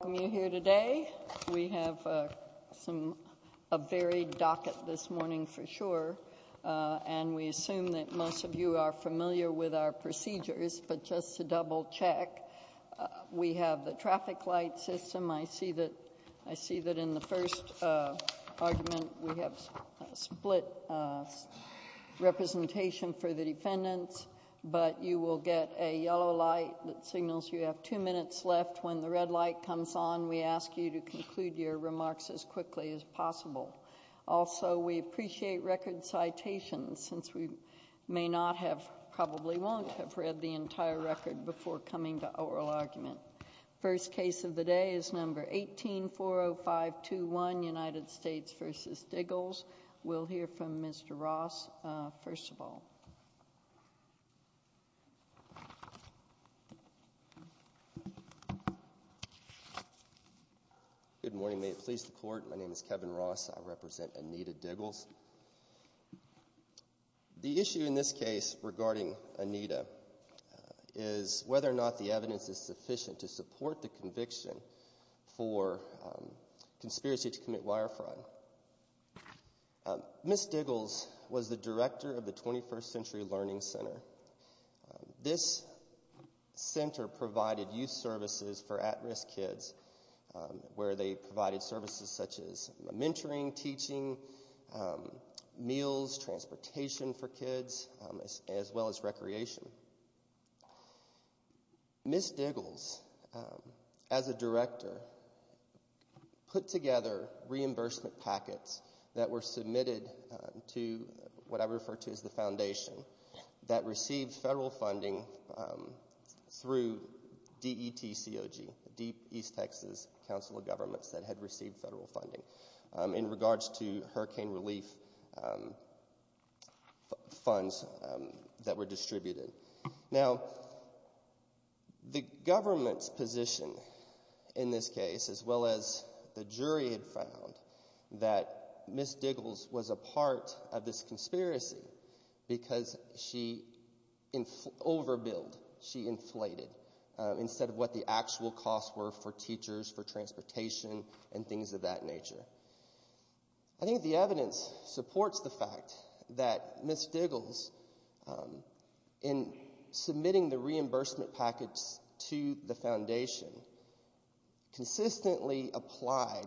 Welcome you here today. We have a varied docket this morning for sure, and we assume that most of you are familiar with our procedures, but just to double check, we have the traffic light system. I see that in the first argument, we have split representation for the defendants, but you will get a yellow light that signals you have two minutes left. When the red light comes on, we ask you to conclude your remarks as quickly as possible. Also, we appreciate record citations, since we may not have, probably won't have read the entire record before coming to oral argument. First case of the day is number 1840521, United States v. Diggles. We'll hear from Mr. Ross first of all. Kevin Ross Good morning. May it please the Court, my name is Kevin Ross. I represent Anita Diggles. The issue in this case regarding Anita is whether or not the evidence is sufficient to support the conviction for conspiracy to commit wire fraud. Ms. Diggles was the director of the 21st Century Learning Center. This center provided youth services for at-risk kids, where they provided services such as mentoring, teaching, meals, transportation for kids, as well as recreation. Ms. Diggles, as a director, put together reimbursement packets that were submitted to what I refer to as the foundation, that received federal funding through DETCOG, Deep East Texas Council of Governments, that had received federal funding. In regards to hurricane relief funds that were distributed. Now, the government's position in this case, as well as the jury had found, that Ms. Diggles was a part of this conspiracy because she overbilled, she inflated, instead of what the actual costs were for teachers, for transportation, and things of that nature. I think the evidence supports the fact that Ms. Diggles, in submitting the reimbursement packets to the foundation, consistently applied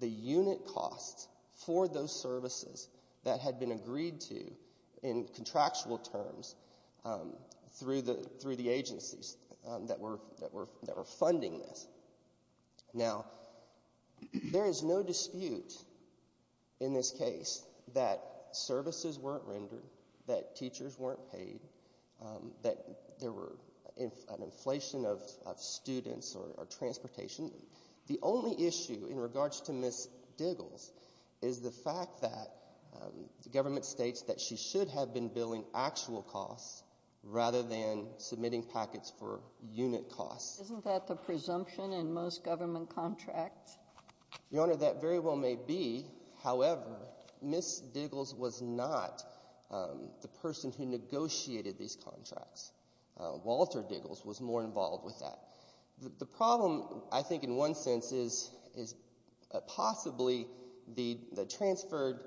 the unit costs for those services that had been agreed to in contractual terms through the agencies that were funding this. Now, there is no dispute in this case that services weren't rendered, that teachers weren't paid, that there were an inflation of students or transportation. The only issue in regards to Ms. Diggles is the fact that the government states that she should have been billing actual costs rather than submitting packets for unit costs. Isn't that the presumption in most government contracts? Your Honor, that very well may be. However, Ms. Diggles was not the person who negotiated these contracts. Walter Diggles was more involved with that. The problem, I think, in one sense is possibly the transferred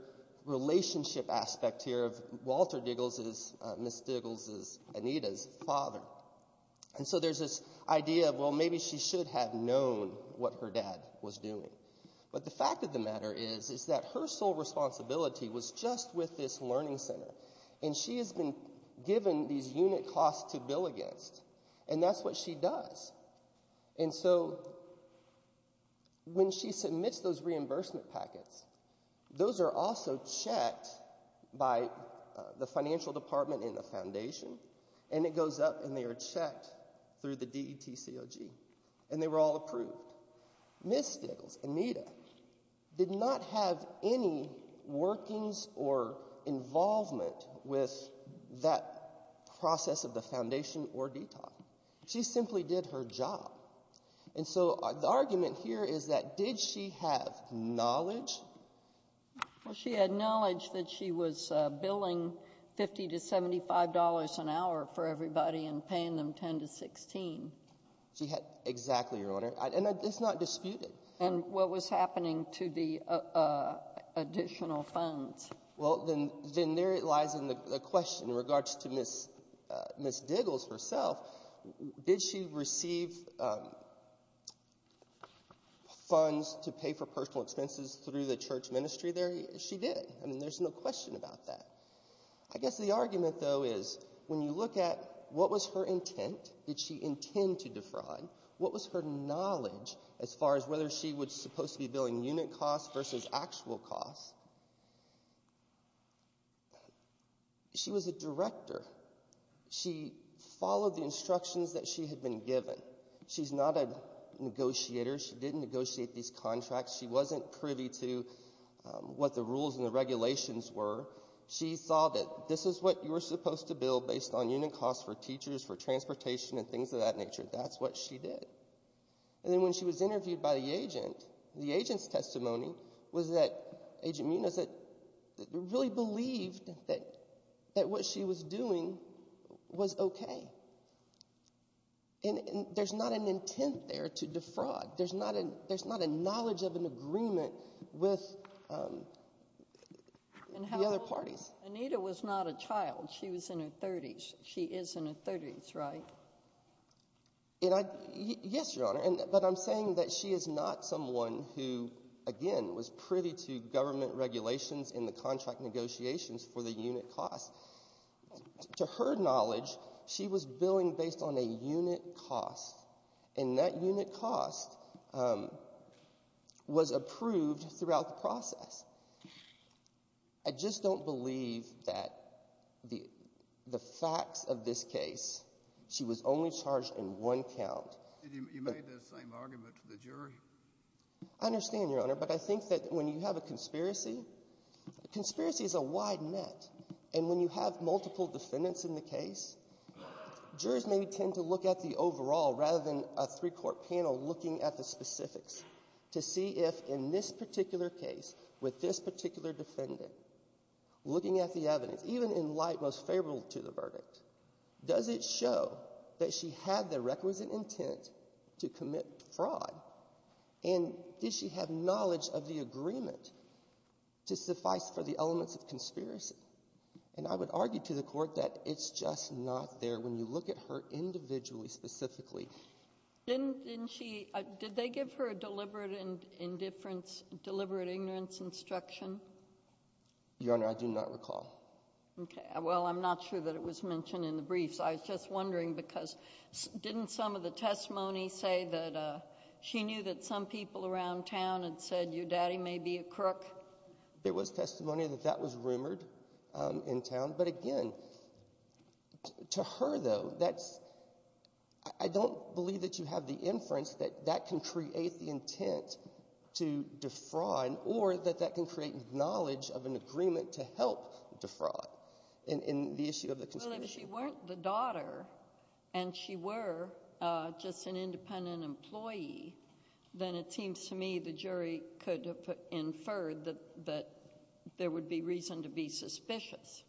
relationship aspect here of Walter Diggles as Ms. Diggles as Anita's father. And so there's this idea of, well, maybe she should have known what her dad was doing. But the fact of the matter is that her sole responsibility was just with this learning center, and she has been given these unit costs to bill against, and that's what she does. And so when she submits those reimbursement packets, those are also checked by the financial department and the foundation, and it goes up and they are checked through the DTCOG, and they were all approved. Ms. Diggles, Anita, did not have any workings or involvement with that process of the foundation or DTCOG. She simply did her job. And so the argument here is that did she have knowledge? Well, she had knowledge that she was billing $50 to $75 an hour for everybody and paying them $10 to $16. Exactly, Your Honor. And it's not disputed. And what was happening to the additional funds? Well, then there lies the question in regards to Ms. Diggles herself. Did she receive funds to pay for personal expenses through the church ministry there? She did. I mean, there's no question about that. I guess the argument, though, is when you look at what was her intent, did she intend to defraud, what was her knowledge as far as whether she was supposed to be billing unit costs versus actual costs, she was a director. She followed the instructions that she had been given. She's not a negotiator. She didn't negotiate these contracts. She wasn't privy to what the rules and the regulations were. She saw that this is what you were supposed to bill based on unit costs for teachers, for transportation and things of that nature. That's what she did. And then when she was interviewed by the agent, the agent's testimony was that Agent Munoz really believed that what she was doing was okay. And there's not an intent there to defraud. There's not a knowledge of an agreement with the other parties. Anita was not a child. She was in her 30s. She is in her 30s, right? Yes, Your Honor, but I'm saying that she is not someone who, again, was privy to government regulations in the contract negotiations for the unit costs. To her knowledge, she was billing based on a unit cost, and that unit cost was approved throughout the process. I just don't believe that the facts of this case, she was only charged in one count. You made that same argument to the jury. I understand, Your Honor, but I think that when you have a conspiracy, a conspiracy is a wide net. And when you have multiple defendants in the case, jurors may tend to look at the overall rather than a three-court panel looking at the specifics to see if, in this particular case, with this particular defendant, looking at the evidence, even in light most favorable to the verdict, does it show that she had the requisite intent to commit fraud? And does she have knowledge of the agreement to suffice for the elements of conspiracy? And I would argue to the Court that it's just not there when you look at her individually, specifically. Didn't she, did they give her a deliberate indifference, deliberate ignorance instruction? Your Honor, I do not recall. Okay. Well, I'm not sure that it was mentioned in the briefs. I was just wondering because didn't some of the testimony say that she knew that some people around town had said your daddy may be a crook? There was testimony that that was rumored in town. But again, to her, though, that's, I don't believe that you have the inference that that can create the intent to defraud or that that can create knowledge of an agreement to help defraud in the issue of the conspiracy. Well, if she weren't the daughter and she were just an independent employee, then it seems to me the jury could have inferred that there would be reason to be suspicious.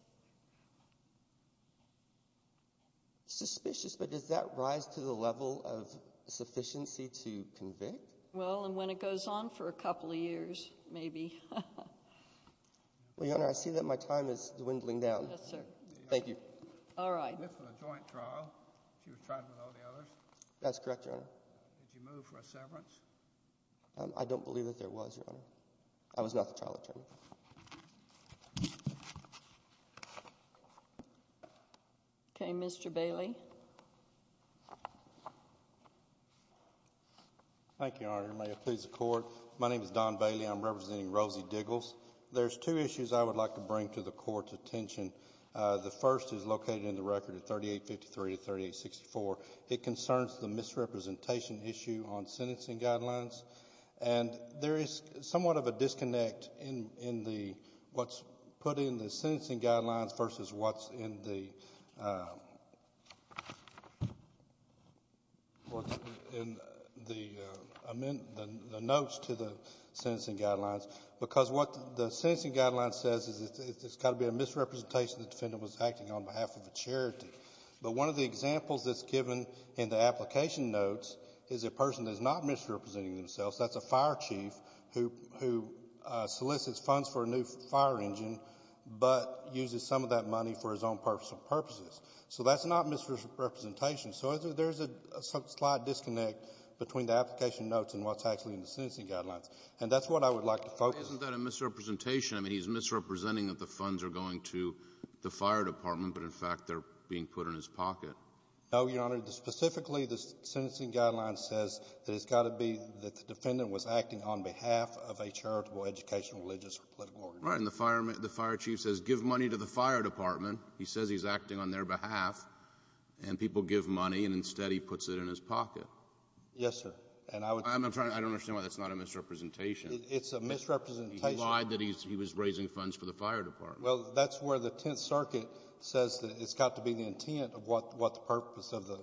Suspicious, but does that rise to the level of sufficiency to convict? Well, and when it goes on for a couple of years, maybe. Well, Your Honor, I see that my time is dwindling down. Yes, sir. Thank you. All right. This was a joint trial. She was tried with all the others. That's correct, Your Honor. Did you move for a severance? I don't believe that there was, Your Honor. I was not the trial attorney. Okay, Mr. Bailey. Thank you, Your Honor. May it please the Court. My name is Don Bailey. I'm representing Rosie Diggles. There's two issues I would like to bring to the Court's attention. The first is located in the record at 3853 to 3864. It concerns the misrepresentation issue on sentencing guidelines, and there is somewhat of a disconnect in what's put in the sentencing guidelines versus what's in the notes to the sentencing guidelines, because what the sentencing guidelines says is it's got to be a misrepresentation that the defendant was acting on behalf of a charity. But one of the examples that's given in the application notes is a person that's not misrepresenting themselves. That's a fire chief who solicits funds for a new fire engine but uses some of that money for his own personal purposes. So that's not misrepresentation. So there's a slight disconnect between the application notes and what's actually in the sentencing guidelines. And that's what I would like to focus on. Isn't that a misrepresentation? I mean, he's misrepresenting that the funds are going to the fire department, but in fact they're being put in his pocket. No, Your Honor. Specifically, the sentencing guideline says that it's got to be that the defendant was acting on behalf of a charitable, educational, religious, or political organization. Right. And the fire chief says give money to the fire department. He says he's acting on their behalf, and people give money, and instead he puts it in his pocket. Yes, sir. I'm trying to understand why that's not a misrepresentation. It's a misrepresentation. He lied that he was raising funds for the fire department. Well, that's where the Tenth Circuit says that it's got to be the intent of what the purpose of the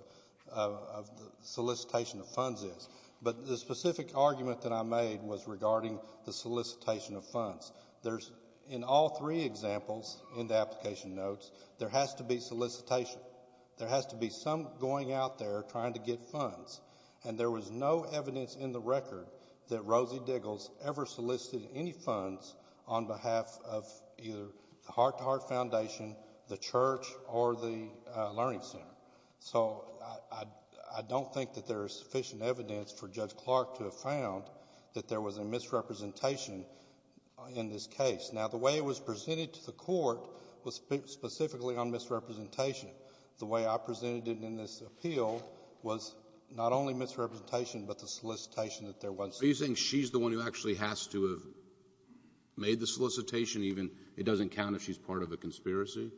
solicitation of funds is. But the specific argument that I made was regarding the solicitation of funds. In all three examples in the application notes, there has to be solicitation. There has to be some going out there trying to get funds. And there was no evidence in the record that Rosie Diggles ever solicited any funds on behalf of either the Heart to Heart Foundation, the church, or the learning center. So I don't think that there is sufficient evidence for Judge Clark to have found that there was a misrepresentation in this case. Now, the way it was presented to the Court was specifically on misrepresentation. The way I presented it in this appeal was not only misrepresentation, but the solicitation that there was. Are you saying she's the one who actually has to have made the solicitation even? It doesn't count if she's part of a conspiracy?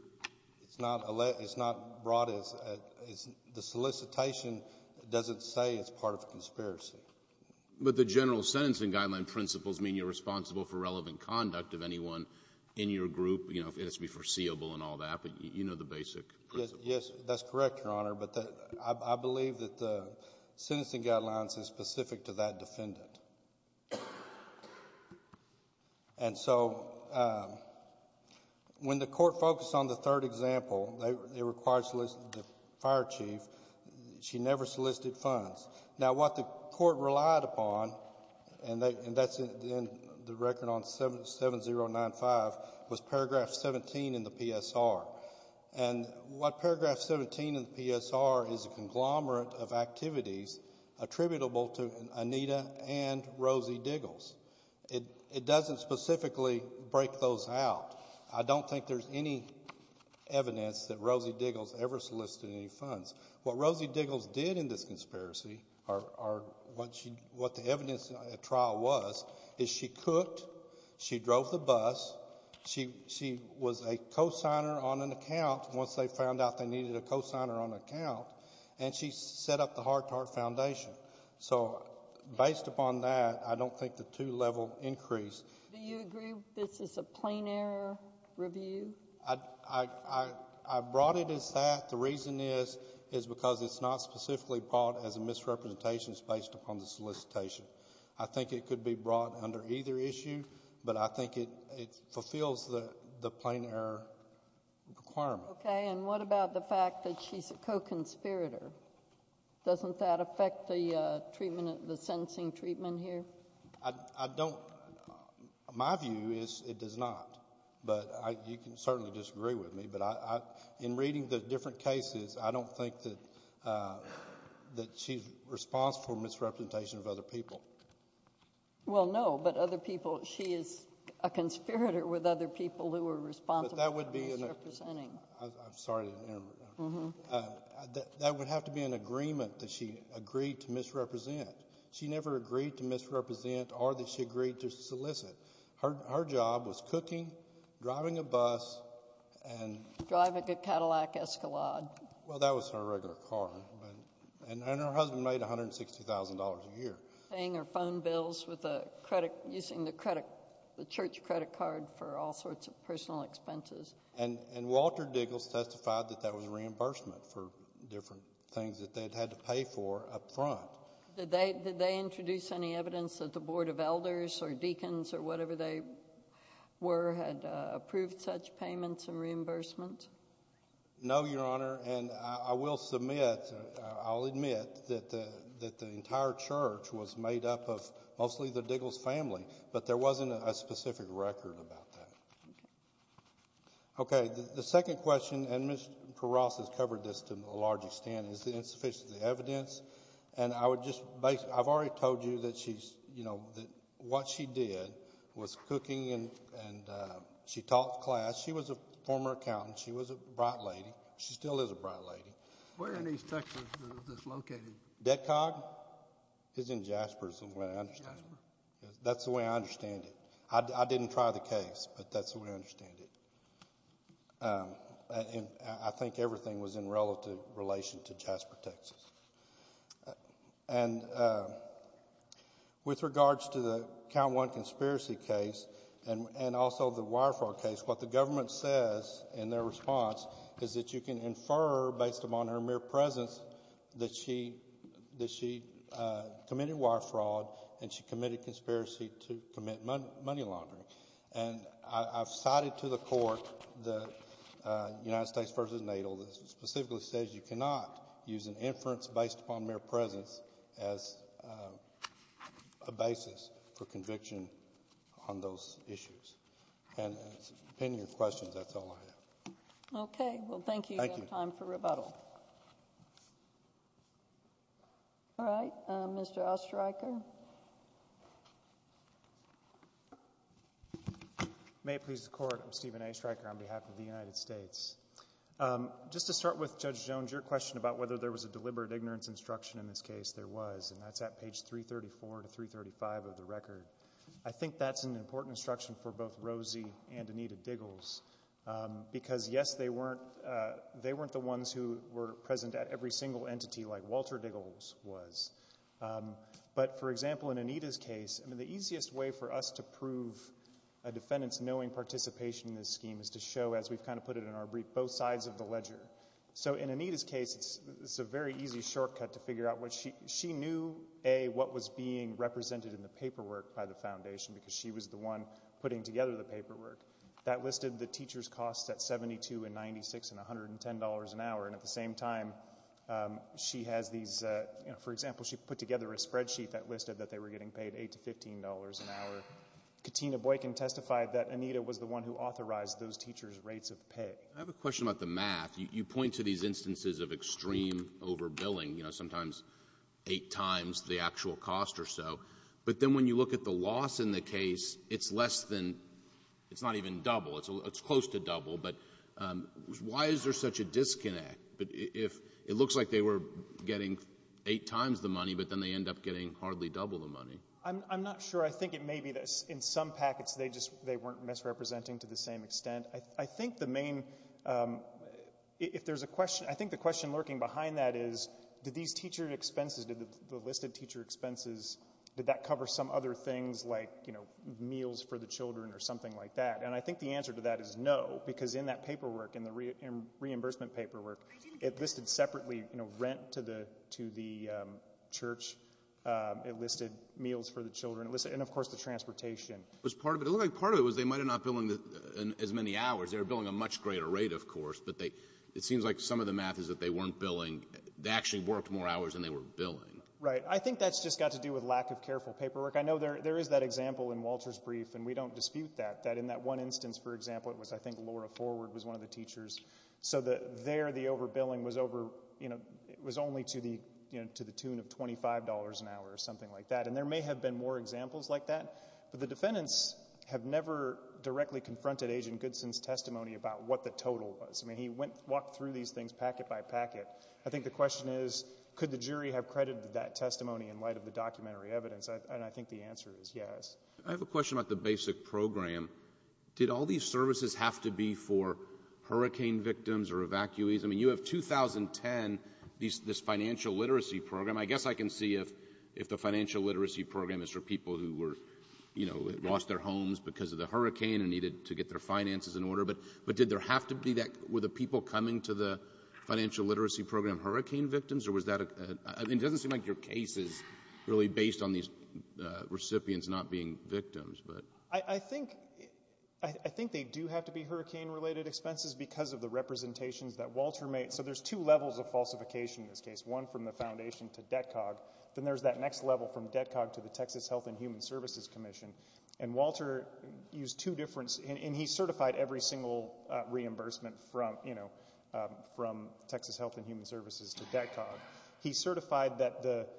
It's not broad as the solicitation doesn't say it's part of a conspiracy. But the general sentencing guideline principles mean you're responsible for relevant conduct of anyone in your group, you know, if it has to be foreseeable and all that. But you know the basic principles. Yes, that's correct, Your Honor. But I believe that the sentencing guidelines is specific to that defendant. And so when the Court focused on the third example, it requires soliciting the fire chief, she never solicited funds. Now, what the Court relied upon, and that's in the record on 7095, was paragraph 17 in the PSR. And what paragraph 17 in the PSR is a conglomerate of activities attributable to Anita and Rosie Diggles. It doesn't specifically break those out. I don't think there's any evidence that Rosie Diggles ever solicited any funds. What Rosie Diggles did in this conspiracy, or what the evidence at trial was, is she cooked, she drove the bus, she was a cosigner on an account once they found out they needed a cosigner on an account, and she set up the Hart-Tart Foundation. So based upon that, I don't think the two-level increase. Do you agree this is a plain error review? I brought it as that. The reason is, is because it's not specifically brought as a misrepresentation. It's based upon the solicitation. I think it could be brought under either issue, but I think it fulfills the plain error requirement. Okay. And what about the fact that she's a co-conspirator? Doesn't that affect the treatment, the sentencing treatment here? I don't. My view is it does not. But you can certainly disagree with me. But in reading the different cases, I don't think that she's responsible for misrepresentation of other people. Well, no. But other people, she is a conspirator with other people who are responsible for misrepresenting. I'm sorry to interrupt. That would have to be an agreement that she agreed to misrepresent. She never agreed to misrepresent or that she agreed to solicit. Her job was cooking, driving a bus, and ‑‑ Driving a Cadillac Escalade. Well, that was her regular car. And her husband made $160,000 a year. Paying her phone bills with a credit ‑‑ using the church credit card for all sorts of personal expenses. And Walter Diggles testified that that was reimbursement for different things that they had had to pay for up front. Did they introduce any evidence that the Board of Elders or deacons or whatever they were had approved such payments and reimbursement? No, Your Honor. And I will submit, I'll admit that the entire church was made up of mostly the Diggles family. But there wasn't a specific record about that. Okay. Okay. The second question, and Ms. Peraz has covered this to a large extent, is insufficient evidence. And I would just ‑‑ I've already told you that she's, you know, that what she did was cooking and she taught class. She was a former accountant. She was a bright lady. She still is a bright lady. Where in East Texas is this located? Detcog? It's in Jasper somewhere, I understand. Jasper? That's the way I understand it. I didn't try the case, but that's the way I understand it. And I think everything was in relative relation to Jasper, Texas. And with regards to the Count One conspiracy case and also the wire fraud case, what the government says in their response is that you can infer, based upon her mere presence, that she committed wire fraud and she committed conspiracy to commit money laundering. And I've cited to the court the United States versus NATO that specifically says you cannot use an inference based upon mere presence as a basis for conviction on those issues. And depending on your questions, that's all I have. Okay. Well, thank you. Thank you. We have time for rebuttal. All right. Mr. Oestreicher. May it please the Court. I'm Stephen Oestreicher on behalf of the United States. Just to start with, Judge Jones, your question about whether there was a deliberate ignorance instruction in this case, there was, and that's at page 334 to 335 of the record. I think that's an important instruction for both Rosie and Anita Diggles because, yes, they weren't the ones who were present at every single entity like Walter Diggles was. But, for example, in Anita's case, the easiest way for us to prove a defendant's knowing participation in this scheme is to show, as we've kind of put it in our brief, both sides of the ledger. So in Anita's case, it's a very easy shortcut to figure out what she knew, A, what was being represented in the paperwork by the Foundation because she was the one putting together the paperwork. That listed the teacher's costs at $72.96 and $110 an hour. And at the same time, she has these, you know, for example, she put together a spreadsheet that listed that they were getting paid $8 to $15 an hour. Katina Boykin testified that Anita was the one who authorized those teachers' rates of pay. I have a question about the math. You point to these instances of extreme overbilling, you know, sometimes eight times the actual cost or so. But then when you look at the loss in the case, it's less than, it's not even double. It's close to double. But why is there such a disconnect? It looks like they were getting eight times the money, but then they end up getting hardly double the money. I'm not sure. I think it may be that in some packets they just weren't misrepresenting to the same extent. I think the main, if there's a question, I think the question lurking behind that is, did these teacher expenses, did the listed teacher expenses, did that cover some other things like, you know, meals for the children or something like that? And I think the answer to that is no, because in that paperwork, in the reimbursement paperwork, it listed separately, you know, rent to the church. It listed meals for the children. And, of course, the transportation. It looked like part of it was they might have not been billing as many hours. They were billing a much greater rate, of course. But it seems like some of the math is that they weren't billing. They actually worked more hours than they were billing. Right. I think that's just got to do with lack of careful paperwork. I know there is that example in Walter's brief, and we don't dispute that, that in that one instance, for example, it was I think Laura Forward was one of the teachers. So there the overbilling was over, you know, it was only to the tune of $25 an hour or something like that. And there may have been more examples like that. But the defendants have never directly confronted Agent Goodson's testimony about what the total was. I mean, he walked through these things packet by packet. I think the question is, could the jury have credited that testimony in light of the documentary evidence? And I think the answer is yes. I have a question about the basic program. Did all these services have to be for hurricane victims or evacuees? I mean, you have 2010, this financial literacy program. I guess I can see if the financial literacy program is for people who were, you know, lost their homes because of the hurricane and needed to get their finances in order. But did there have to be that? Were the people coming to the financial literacy program hurricane victims? It doesn't seem like your case is really based on these recipients not being victims. I think they do have to be hurricane-related expenses because of the representations that Walter made. So there's two levels of falsification in this case, one from the foundation to DETCOG, then there's that next level from DETCOG to the Texas Health and Human Services Commission. And Walter used two different – and he certified every single reimbursement from, you know, from Texas Health and Human Services to DETCOG. He certified that the –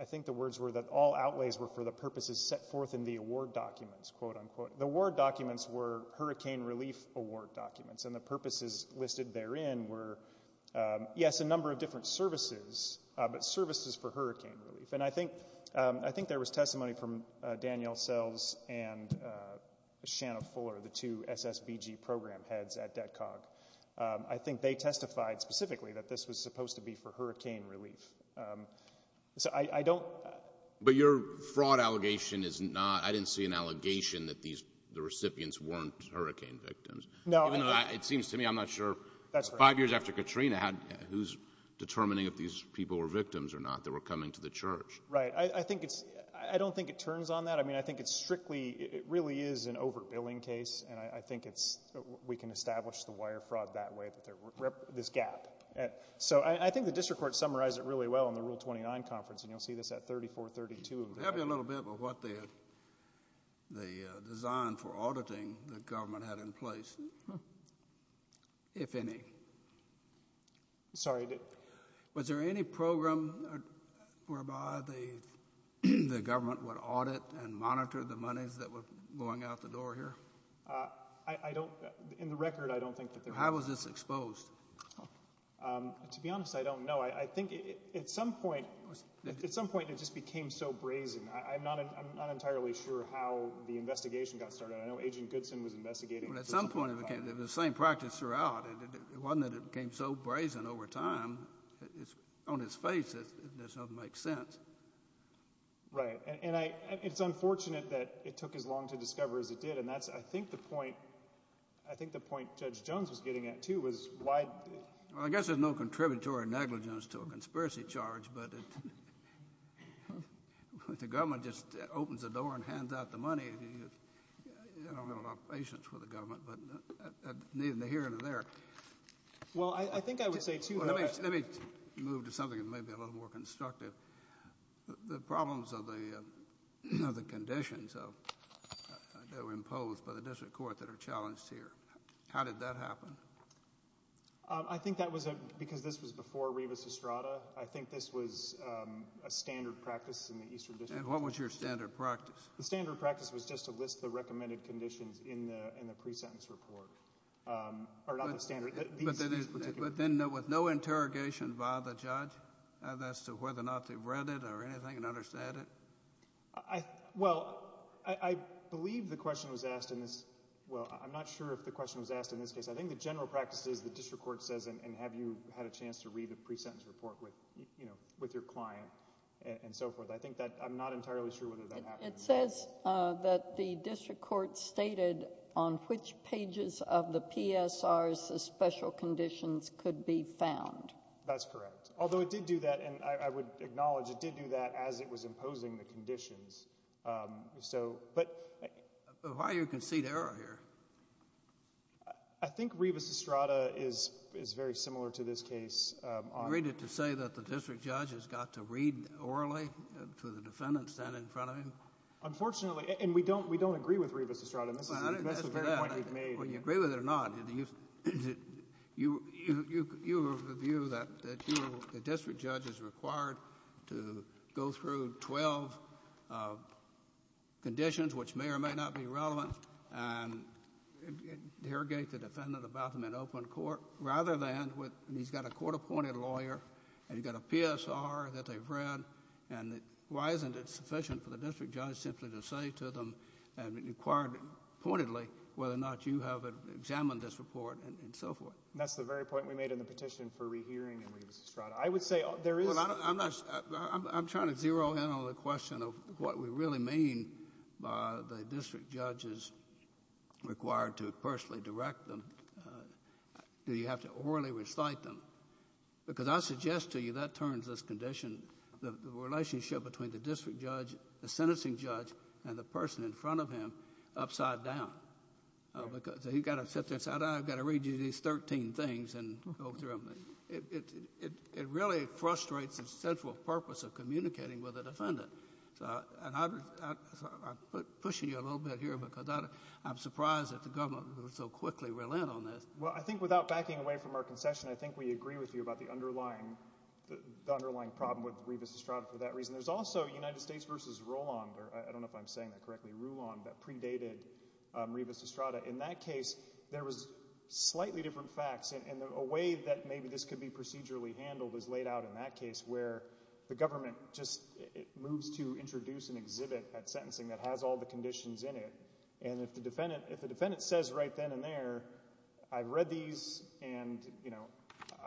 I think the words were that all outlays were for the purposes set forth in the award documents, quote, unquote. The award documents were hurricane relief award documents, and the purposes listed therein were, yes, a number of different services, but services for hurricane relief. And I think there was testimony from Danielle Sells and Shanna Fuller, the two SSBG program heads at DETCOG. I think they testified specifically that this was supposed to be for hurricane relief. So I don't – But your fraud allegation is not – I didn't see an allegation that the recipients weren't hurricane victims. No. It seems to me I'm not sure – That's right. Five years after Katrina, who's determining if these people were victims or not that were coming to the church? Right. I think it's – I don't think it turns on that. I mean, I think it's strictly – it really is an overbilling case, and I think it's – we can establish the wire fraud that way, this gap. So I think the district court summarized it really well in the Rule 29 conference, and you'll see this at 3432. Help me a little bit with what the design for auditing the government had in place, if any. Sorry. Was there any program whereby the government would audit and monitor the monies that were going out the door here? I don't – in the record, I don't think that there was. How was this exposed? To be honest, I don't know. I think at some point – at some point it just became so brazen. I'm not entirely sure how the investigation got started. I know Agent Goodson was investigating. Well, at some point it became – the same practice throughout. It wasn't that it became so brazen over time. On its face, it doesn't make sense. Right. And I – it's unfortunate that it took as long to discover as it did, and that's, I think, the point – I think the point Judge Jones was getting at, too, was why – Well, I guess there's no contributory negligence to a conspiracy charge, but the government just opens the door and hands out the money. You don't have a lot of patience with the government, but neither here nor there. Well, I think I would say, too – Let me move to something that may be a little more constructive. The problems of the conditions that were imposed by the district court that are challenged here, how did that happen? I think that was a – because this was before Rivas-Estrada, I think this was a standard practice in the Eastern District Court. And what was your standard practice? The standard practice was just to list the recommended conditions in the pre-sentence report. Or not the standard. But then with no interrogation by the judge as to whether or not they've read it or anything and understand it? Well, I believe the question was asked in this – well, I'm not sure if the question was asked in this case. I think the general practice is the district court says, and have you had a chance to read the pre-sentence report with your client and so forth. I think that – I'm not entirely sure whether that happened. It says that the district court stated on which pages of the PSRs the special conditions could be found. That's correct. Although it did do that, and I would acknowledge it did do that as it was imposing the conditions. But why do you concede error here? I think Rivas-Estrada is very similar to this case. Do you agree to say that the district judge has got to read orally to the defendant standing in front of him? Unfortunately – and we don't agree with Rivas-Estrada. That's the very point he made. Well, I didn't ask you that. Well, do you agree with it or not? You have a view that the district judge is required to go through 12 conditions, which may or may not be relevant, and interrogate the defendant about them in open court, rather than with – he's got a court-appointed lawyer and he's got a PSR that they've read, and why isn't it sufficient for the district judge simply to say to them, pointedly, whether or not you have examined this report and so forth? And that's the very point we made in the petition for rehearing in Rivas-Estrada. I would say there is – Well, I'm not – I'm trying to zero in on the question of what we really mean by the district judge is required to personally direct them. Do you have to orally recite them? Because I suggest to you that turns this condition, the relationship between the district judge, the sentencing judge, and the person in front of him, upside down. Because he's got to sit there and say, I've got to read you these 13 things and go through them. It really frustrates the central purpose of communicating with a defendant. And I'm pushing you a little bit here because I'm surprised that the government would so quickly relent on this. Well, I think without backing away from our concession, I think we agree with you about the underlying problem with Rivas-Estrada for that reason. There's also United States v. Rulon – I don't know if I'm saying that correctly – Rulon that predated Rivas-Estrada. In that case, there was slightly different facts. And a way that maybe this could be procedurally handled is laid out in that case where the government just moves to introduce an exhibit at sentencing that has all the conditions in it. And if the defendant says right then and there, I've read these and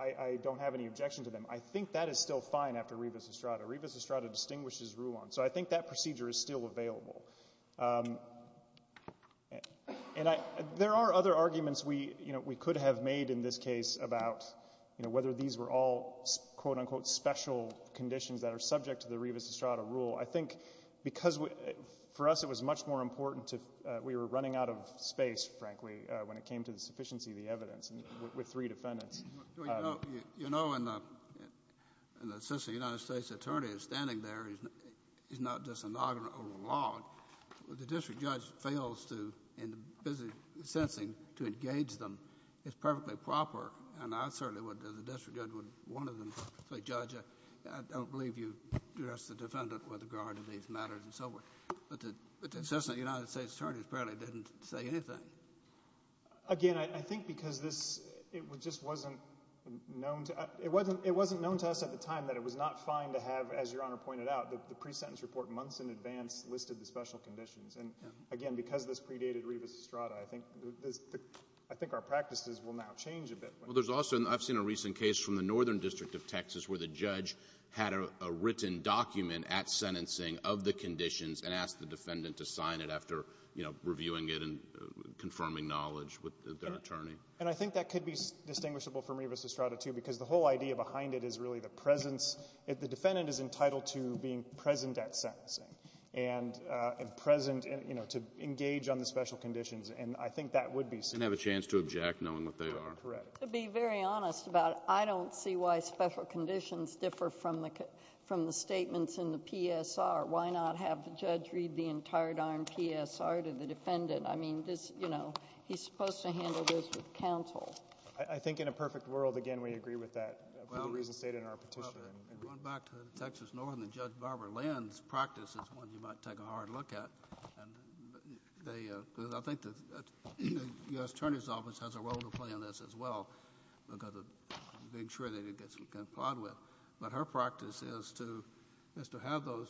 I don't have any objection to them, I think that is still fine after Rivas-Estrada. Rivas-Estrada distinguishes Rulon. So I think that procedure is still available. There are other arguments we could have made in this case about whether these were all quote-unquote special conditions that are subject to the Rivas-Estrada rule. I think because for us it was much more important to – we were running out of space, frankly, when it came to the sufficiency of the evidence with three defendants. Well, you know when the assistant United States attorney is standing there, he's not just a noggin or a log. The district judge fails to, in the business of sentencing, to engage them. It's perfectly proper. And I certainly would, as a district judge, would want to say, Judge, I don't believe you addressed the defendant with regard to these matters and so forth. But the assistant United States attorney apparently didn't say anything. Again, I think because this – it just wasn't known to us at the time that it was not fine to have, as Your Honor pointed out, the pre-sentence report months in advance listed the special conditions. And again, because this predated Rivas-Estrada, I think our practices will now change a bit. Well, there's also – I've seen a recent case from the Northern District of Texas where the judge had a written document at sentencing of the conditions and asked the defendant to sign it after, you know, reviewing it and confirming knowledge with their attorney. And I think that could be distinguishable from Rivas-Estrada, too, because the whole idea behind it is really the presence. The defendant is entitled to being present at sentencing and present, you know, to engage on the special conditions. And I think that would be safe. And have a chance to object, knowing what they are. Correct. To be very honest about it, I don't see why special conditions differ from the statements in the PSR. Why not have the judge read the entire RMPSR to the defendant? I mean, this, you know, he's supposed to handle this with counsel. I think in a perfect world, again, we agree with that for the reasons stated in our petition. Well, going back to the Texas Northern, Judge Barbara Lynn's practice is one you might take a hard look at. And they – because I think the U.S. Attorney's Office has a role to play in this as well, because of being sure that it gets complied with. But her practice is to have those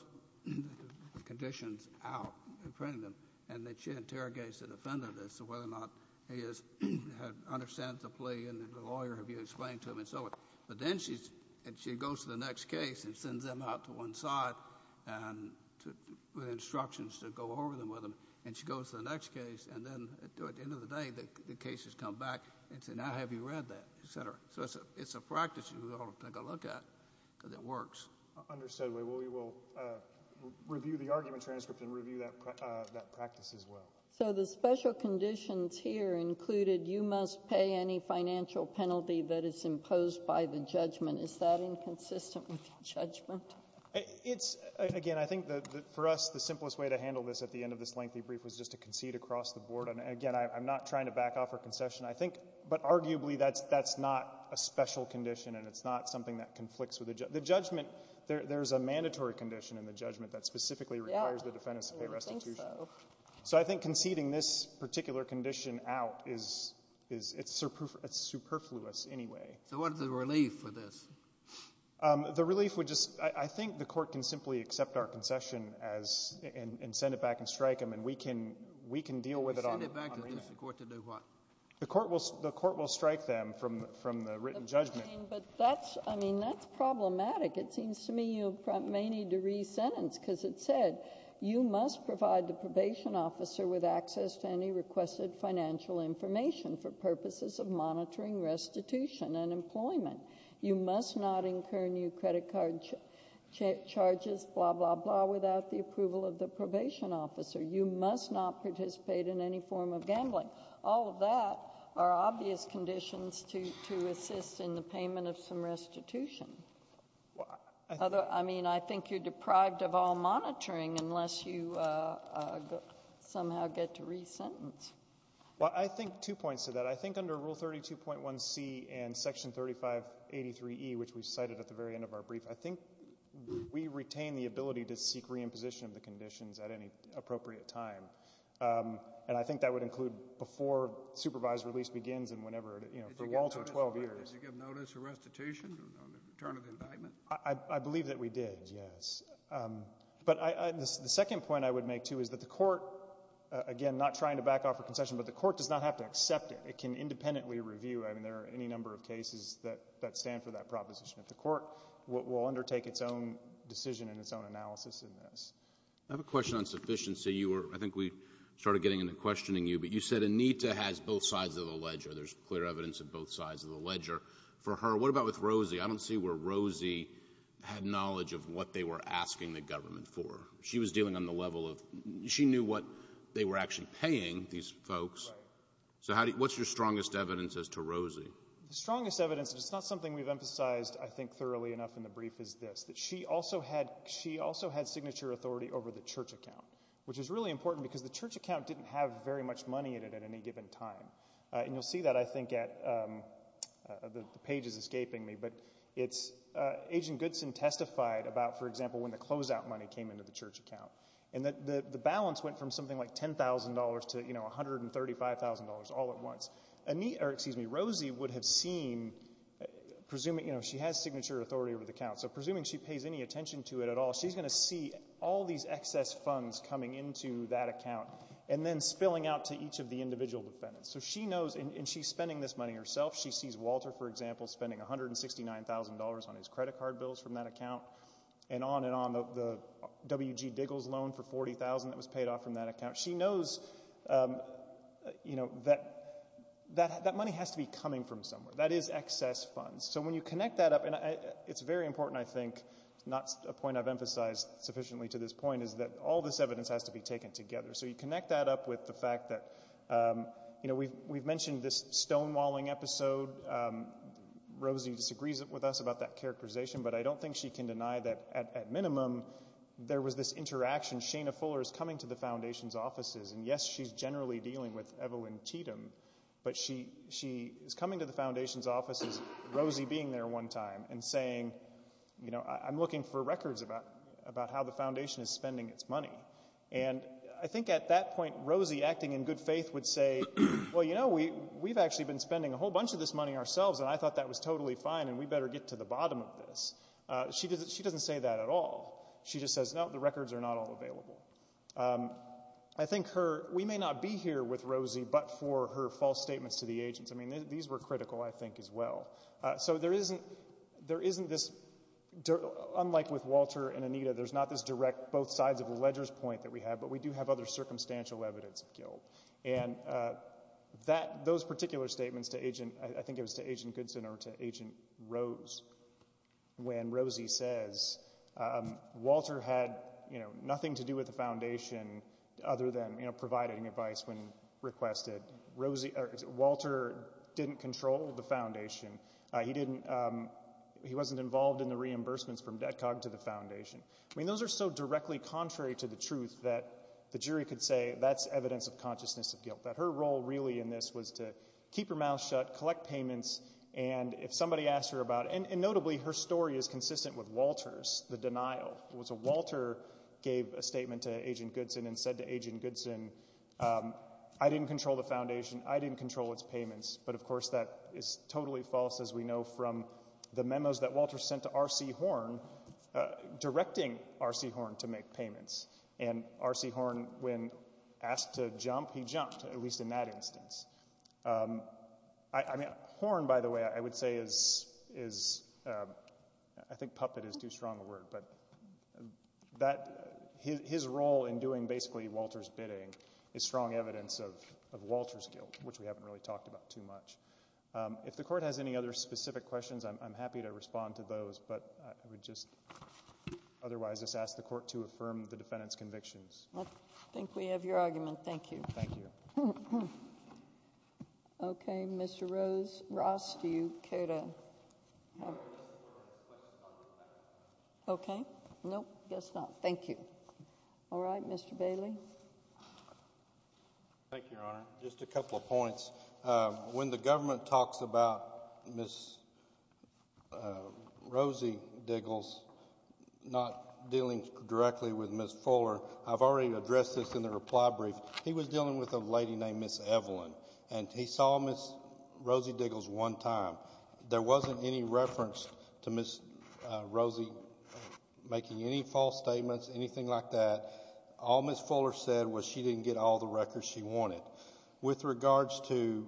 conditions out in front of them. And then she interrogates the defendant as to whether or not he understands the plea and the lawyer have you explained to him and so forth. But then she goes to the next case and sends them out to one side with instructions to go over them with them. And she goes to the next case and then at the end of the day the case has come back and said, now have you read that, et cetera. So it's a practice you ought to take a look at because it works. Understood. We will review the argument transcript and review that practice as well. So the special conditions here included you must pay any financial penalty that is imposed by the judgment. Is that inconsistent with the judgment? It's – again, I think for us the simplest way to handle this at the end of this lengthy brief was just to concede across the board. And again, I'm not trying to back off her concession. I think – but arguably that's not a special condition and it's not something that conflicts with the judgment. There's a mandatory condition in the judgment that specifically requires the defendant to pay restitution. I don't think so. So I think conceding this particular condition out is – it's superfluous anyway. So what is the relief for this? The relief would just – I think the Court can simply accept our concession and send it back and strike them. And we can deal with it on our end. Send it back to the District Court to do what? The Court will strike them from the written judgment. But that's – I mean, that's problematic. It seems to me you may need to re-sentence because it said you must provide the probation officer with access to any requested financial information for purposes of monitoring restitution and employment. You must not incur new credit card charges, blah, blah, blah, without the approval of the probation officer. You must not participate in any form of gambling. All of that are obvious conditions to assist in the payment of some restitution. I mean, I think you're deprived of all monitoring unless you somehow get to re-sentence. Well, I think two points to that. I think under Rule 32.1c and Section 3583e, which we cited at the very end of our brief, I think we retain the ability to seek re-imposition of the conditions at any appropriate time. And I think that would include before supervised release begins and whenever – for Walter, 12 years. Did you give notice of restitution on the return of the indictment? I believe that we did, yes. But the second point I would make, too, is that the Court, again, not trying to back off a concession, but the Court does not have to accept it. It can independently review. I mean, there are any number of cases that stand for that proposition. The Court will undertake its own decision and its own analysis in this. I have a question on sufficiency. I think we started getting into questioning you, but you said Anita has both sides of the ledger. There's clear evidence of both sides of the ledger. For her, what about with Rosie? I don't see where Rosie had knowledge of what they were asking the government for. She was dealing on the level of – she knew what they were actually paying, these folks. Right. So what's your strongest evidence as to Rosie? The strongest evidence, and it's not something we've emphasized, I think, thoroughly enough in the brief, is this, that she also had signature authority over the church account, which is really important because the church account didn't have very much money in it at any given time. And you'll see that, I think, at – the page is escaping me, but it's – Agent Goodson testified about, for example, when the closeout money came into the church account. And the balance went from something like $10,000 to, you know, $135,000 all at once. Rosie would have seen – you know, she has signature authority over the account, so presuming she pays any attention to it at all, she's going to see all these excess funds coming into that account and then spilling out to each of the individual defendants. So she knows – and she's spending this money herself. She sees Walter, for example, spending $169,000 on his credit card bills from that account and on and on, the W.G. Diggles loan for $40,000 that was paid off from that account. She knows, you know, that that money has to be coming from somewhere. That is excess funds. So when you connect that up – and it's very important, I think, not a point I've emphasized sufficiently to this point, is that all this evidence has to be taken together. So you connect that up with the fact that, you know, we've mentioned this stonewalling episode. Rosie disagrees with us about that characterization, but I don't think she can deny that at minimum there was this interaction. Shana Fuller is coming to the Foundation's offices, and yes, she's generally dealing with Evelyn Cheatham, but she is coming to the Foundation's offices, Rosie being there one time, and saying, you know, I'm looking for records about how the Foundation is spending its money. And I think at that point Rosie, acting in good faith, would say, well, you know, we've actually been spending a whole bunch of this money ourselves, and I thought that was totally fine and we better get to the bottom of this. She doesn't say that at all. She just says, no, the records are not all available. I think we may not be here with Rosie but for her false statements to the agents. I mean, these were critical, I think, as well. So there isn't this, unlike with Walter and Anita, there's not this direct both sides of the ledger's point that we have, but we do have other circumstantial evidence of guilt. And those particular statements to Agent, I think it was to Agent Goodson or to Agent Rose, when Rosie says Walter had nothing to do with the Foundation other than providing advice when requested. Walter didn't control the Foundation. He wasn't involved in the reimbursements from DEDCOG to the Foundation. I mean, those are so directly contrary to the truth that the jury could say that's evidence of consciousness of guilt, that her role really in this was to keep her mouth shut, collect payments, and if somebody asked her about it, and notably her story is consistent with Walter's, the denial. It was Walter gave a statement to Agent Goodson and said to Agent Goodson, I didn't control the Foundation. I didn't control its payments. But, of course, that is totally false, as we know, from the memos that Walter sent to R.C. Horn directing R.C. Horn to make payments. And R.C. Horn, when asked to jump, he jumped, at least in that instance. Horn, by the way, I would say is, I think puppet is too strong a word, but his role in doing basically Walter's bidding is strong evidence of Walter's guilt, which we haven't really talked about too much. If the Court has any other specific questions, I'm happy to respond to those, but I would just otherwise just ask the Court to affirm the defendant's convictions. I think we have your argument. Thank you. Thank you. Okay, Mr. Rose. Ross, do you care to? Okay. No, I guess not. Thank you. All right. Mr. Bailey. Thank you, Your Honor. Just a couple of points. When the government talks about Ms. Rosie Diggles not dealing directly with Ms. Fuller, I've already addressed this in the reply brief. He was dealing with a lady named Ms. Evelyn, and he saw Ms. Rosie Diggles one time. There wasn't any reference to Ms. Rosie making any false statements, anything like that. All Ms. Fuller said was she didn't get all the records she wanted. With regards to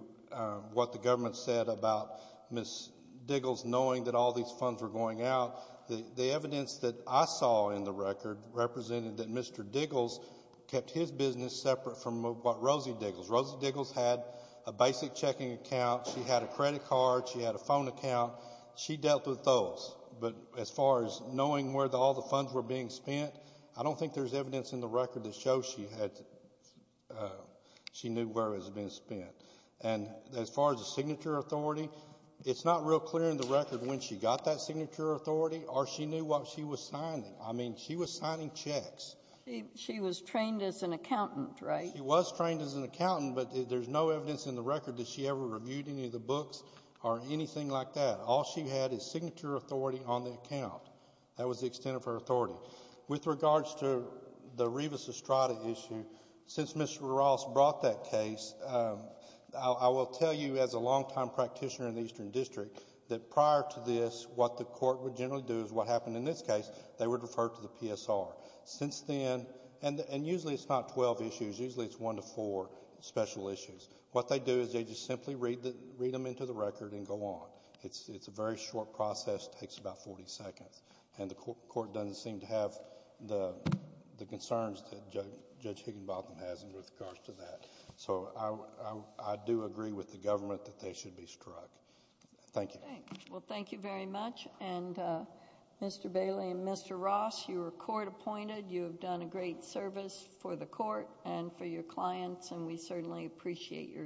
what the government said about Ms. Diggles knowing that all these funds were going out, the evidence that I saw in the record represented that Mr. Diggles kept his business separate from Rosie Diggles. Rosie Diggles had a basic checking account. She had a credit card. She had a phone account. She dealt with those. But as far as knowing where all the funds were being spent, I don't think there's evidence in the record that shows she knew where it was being spent. And as far as the signature authority, it's not real clear in the record when she got that signature authority or she knew what she was signing. I mean, she was signing checks. She was trained as an accountant, right? She was trained as an accountant, but there's no evidence in the record that she ever reviewed any of the books or anything like that. All she had is signature authority on the account. That was the extent of her authority. With regards to the Rivas-Estrada issue, since Mr. Ross brought that case, I will tell you as a longtime practitioner in the Eastern District that prior to this, what the court would generally do is what happened in this case. They would refer to the PSR. Since then, and usually it's not 12 issues. Usually it's one to four special issues. What they do is they just simply read them into the record and go on. It's a very short process. It takes about 40 seconds. The court doesn't seem to have the concerns that Judge Higginbotham has with regards to that. I do agree with the government that they should be struck. Thank you. Well, thank you very much. Mr. Bailey and Mr. Ross, you were court appointed. You have done a great service for the court and for your clients, and we certainly appreciate your assistance.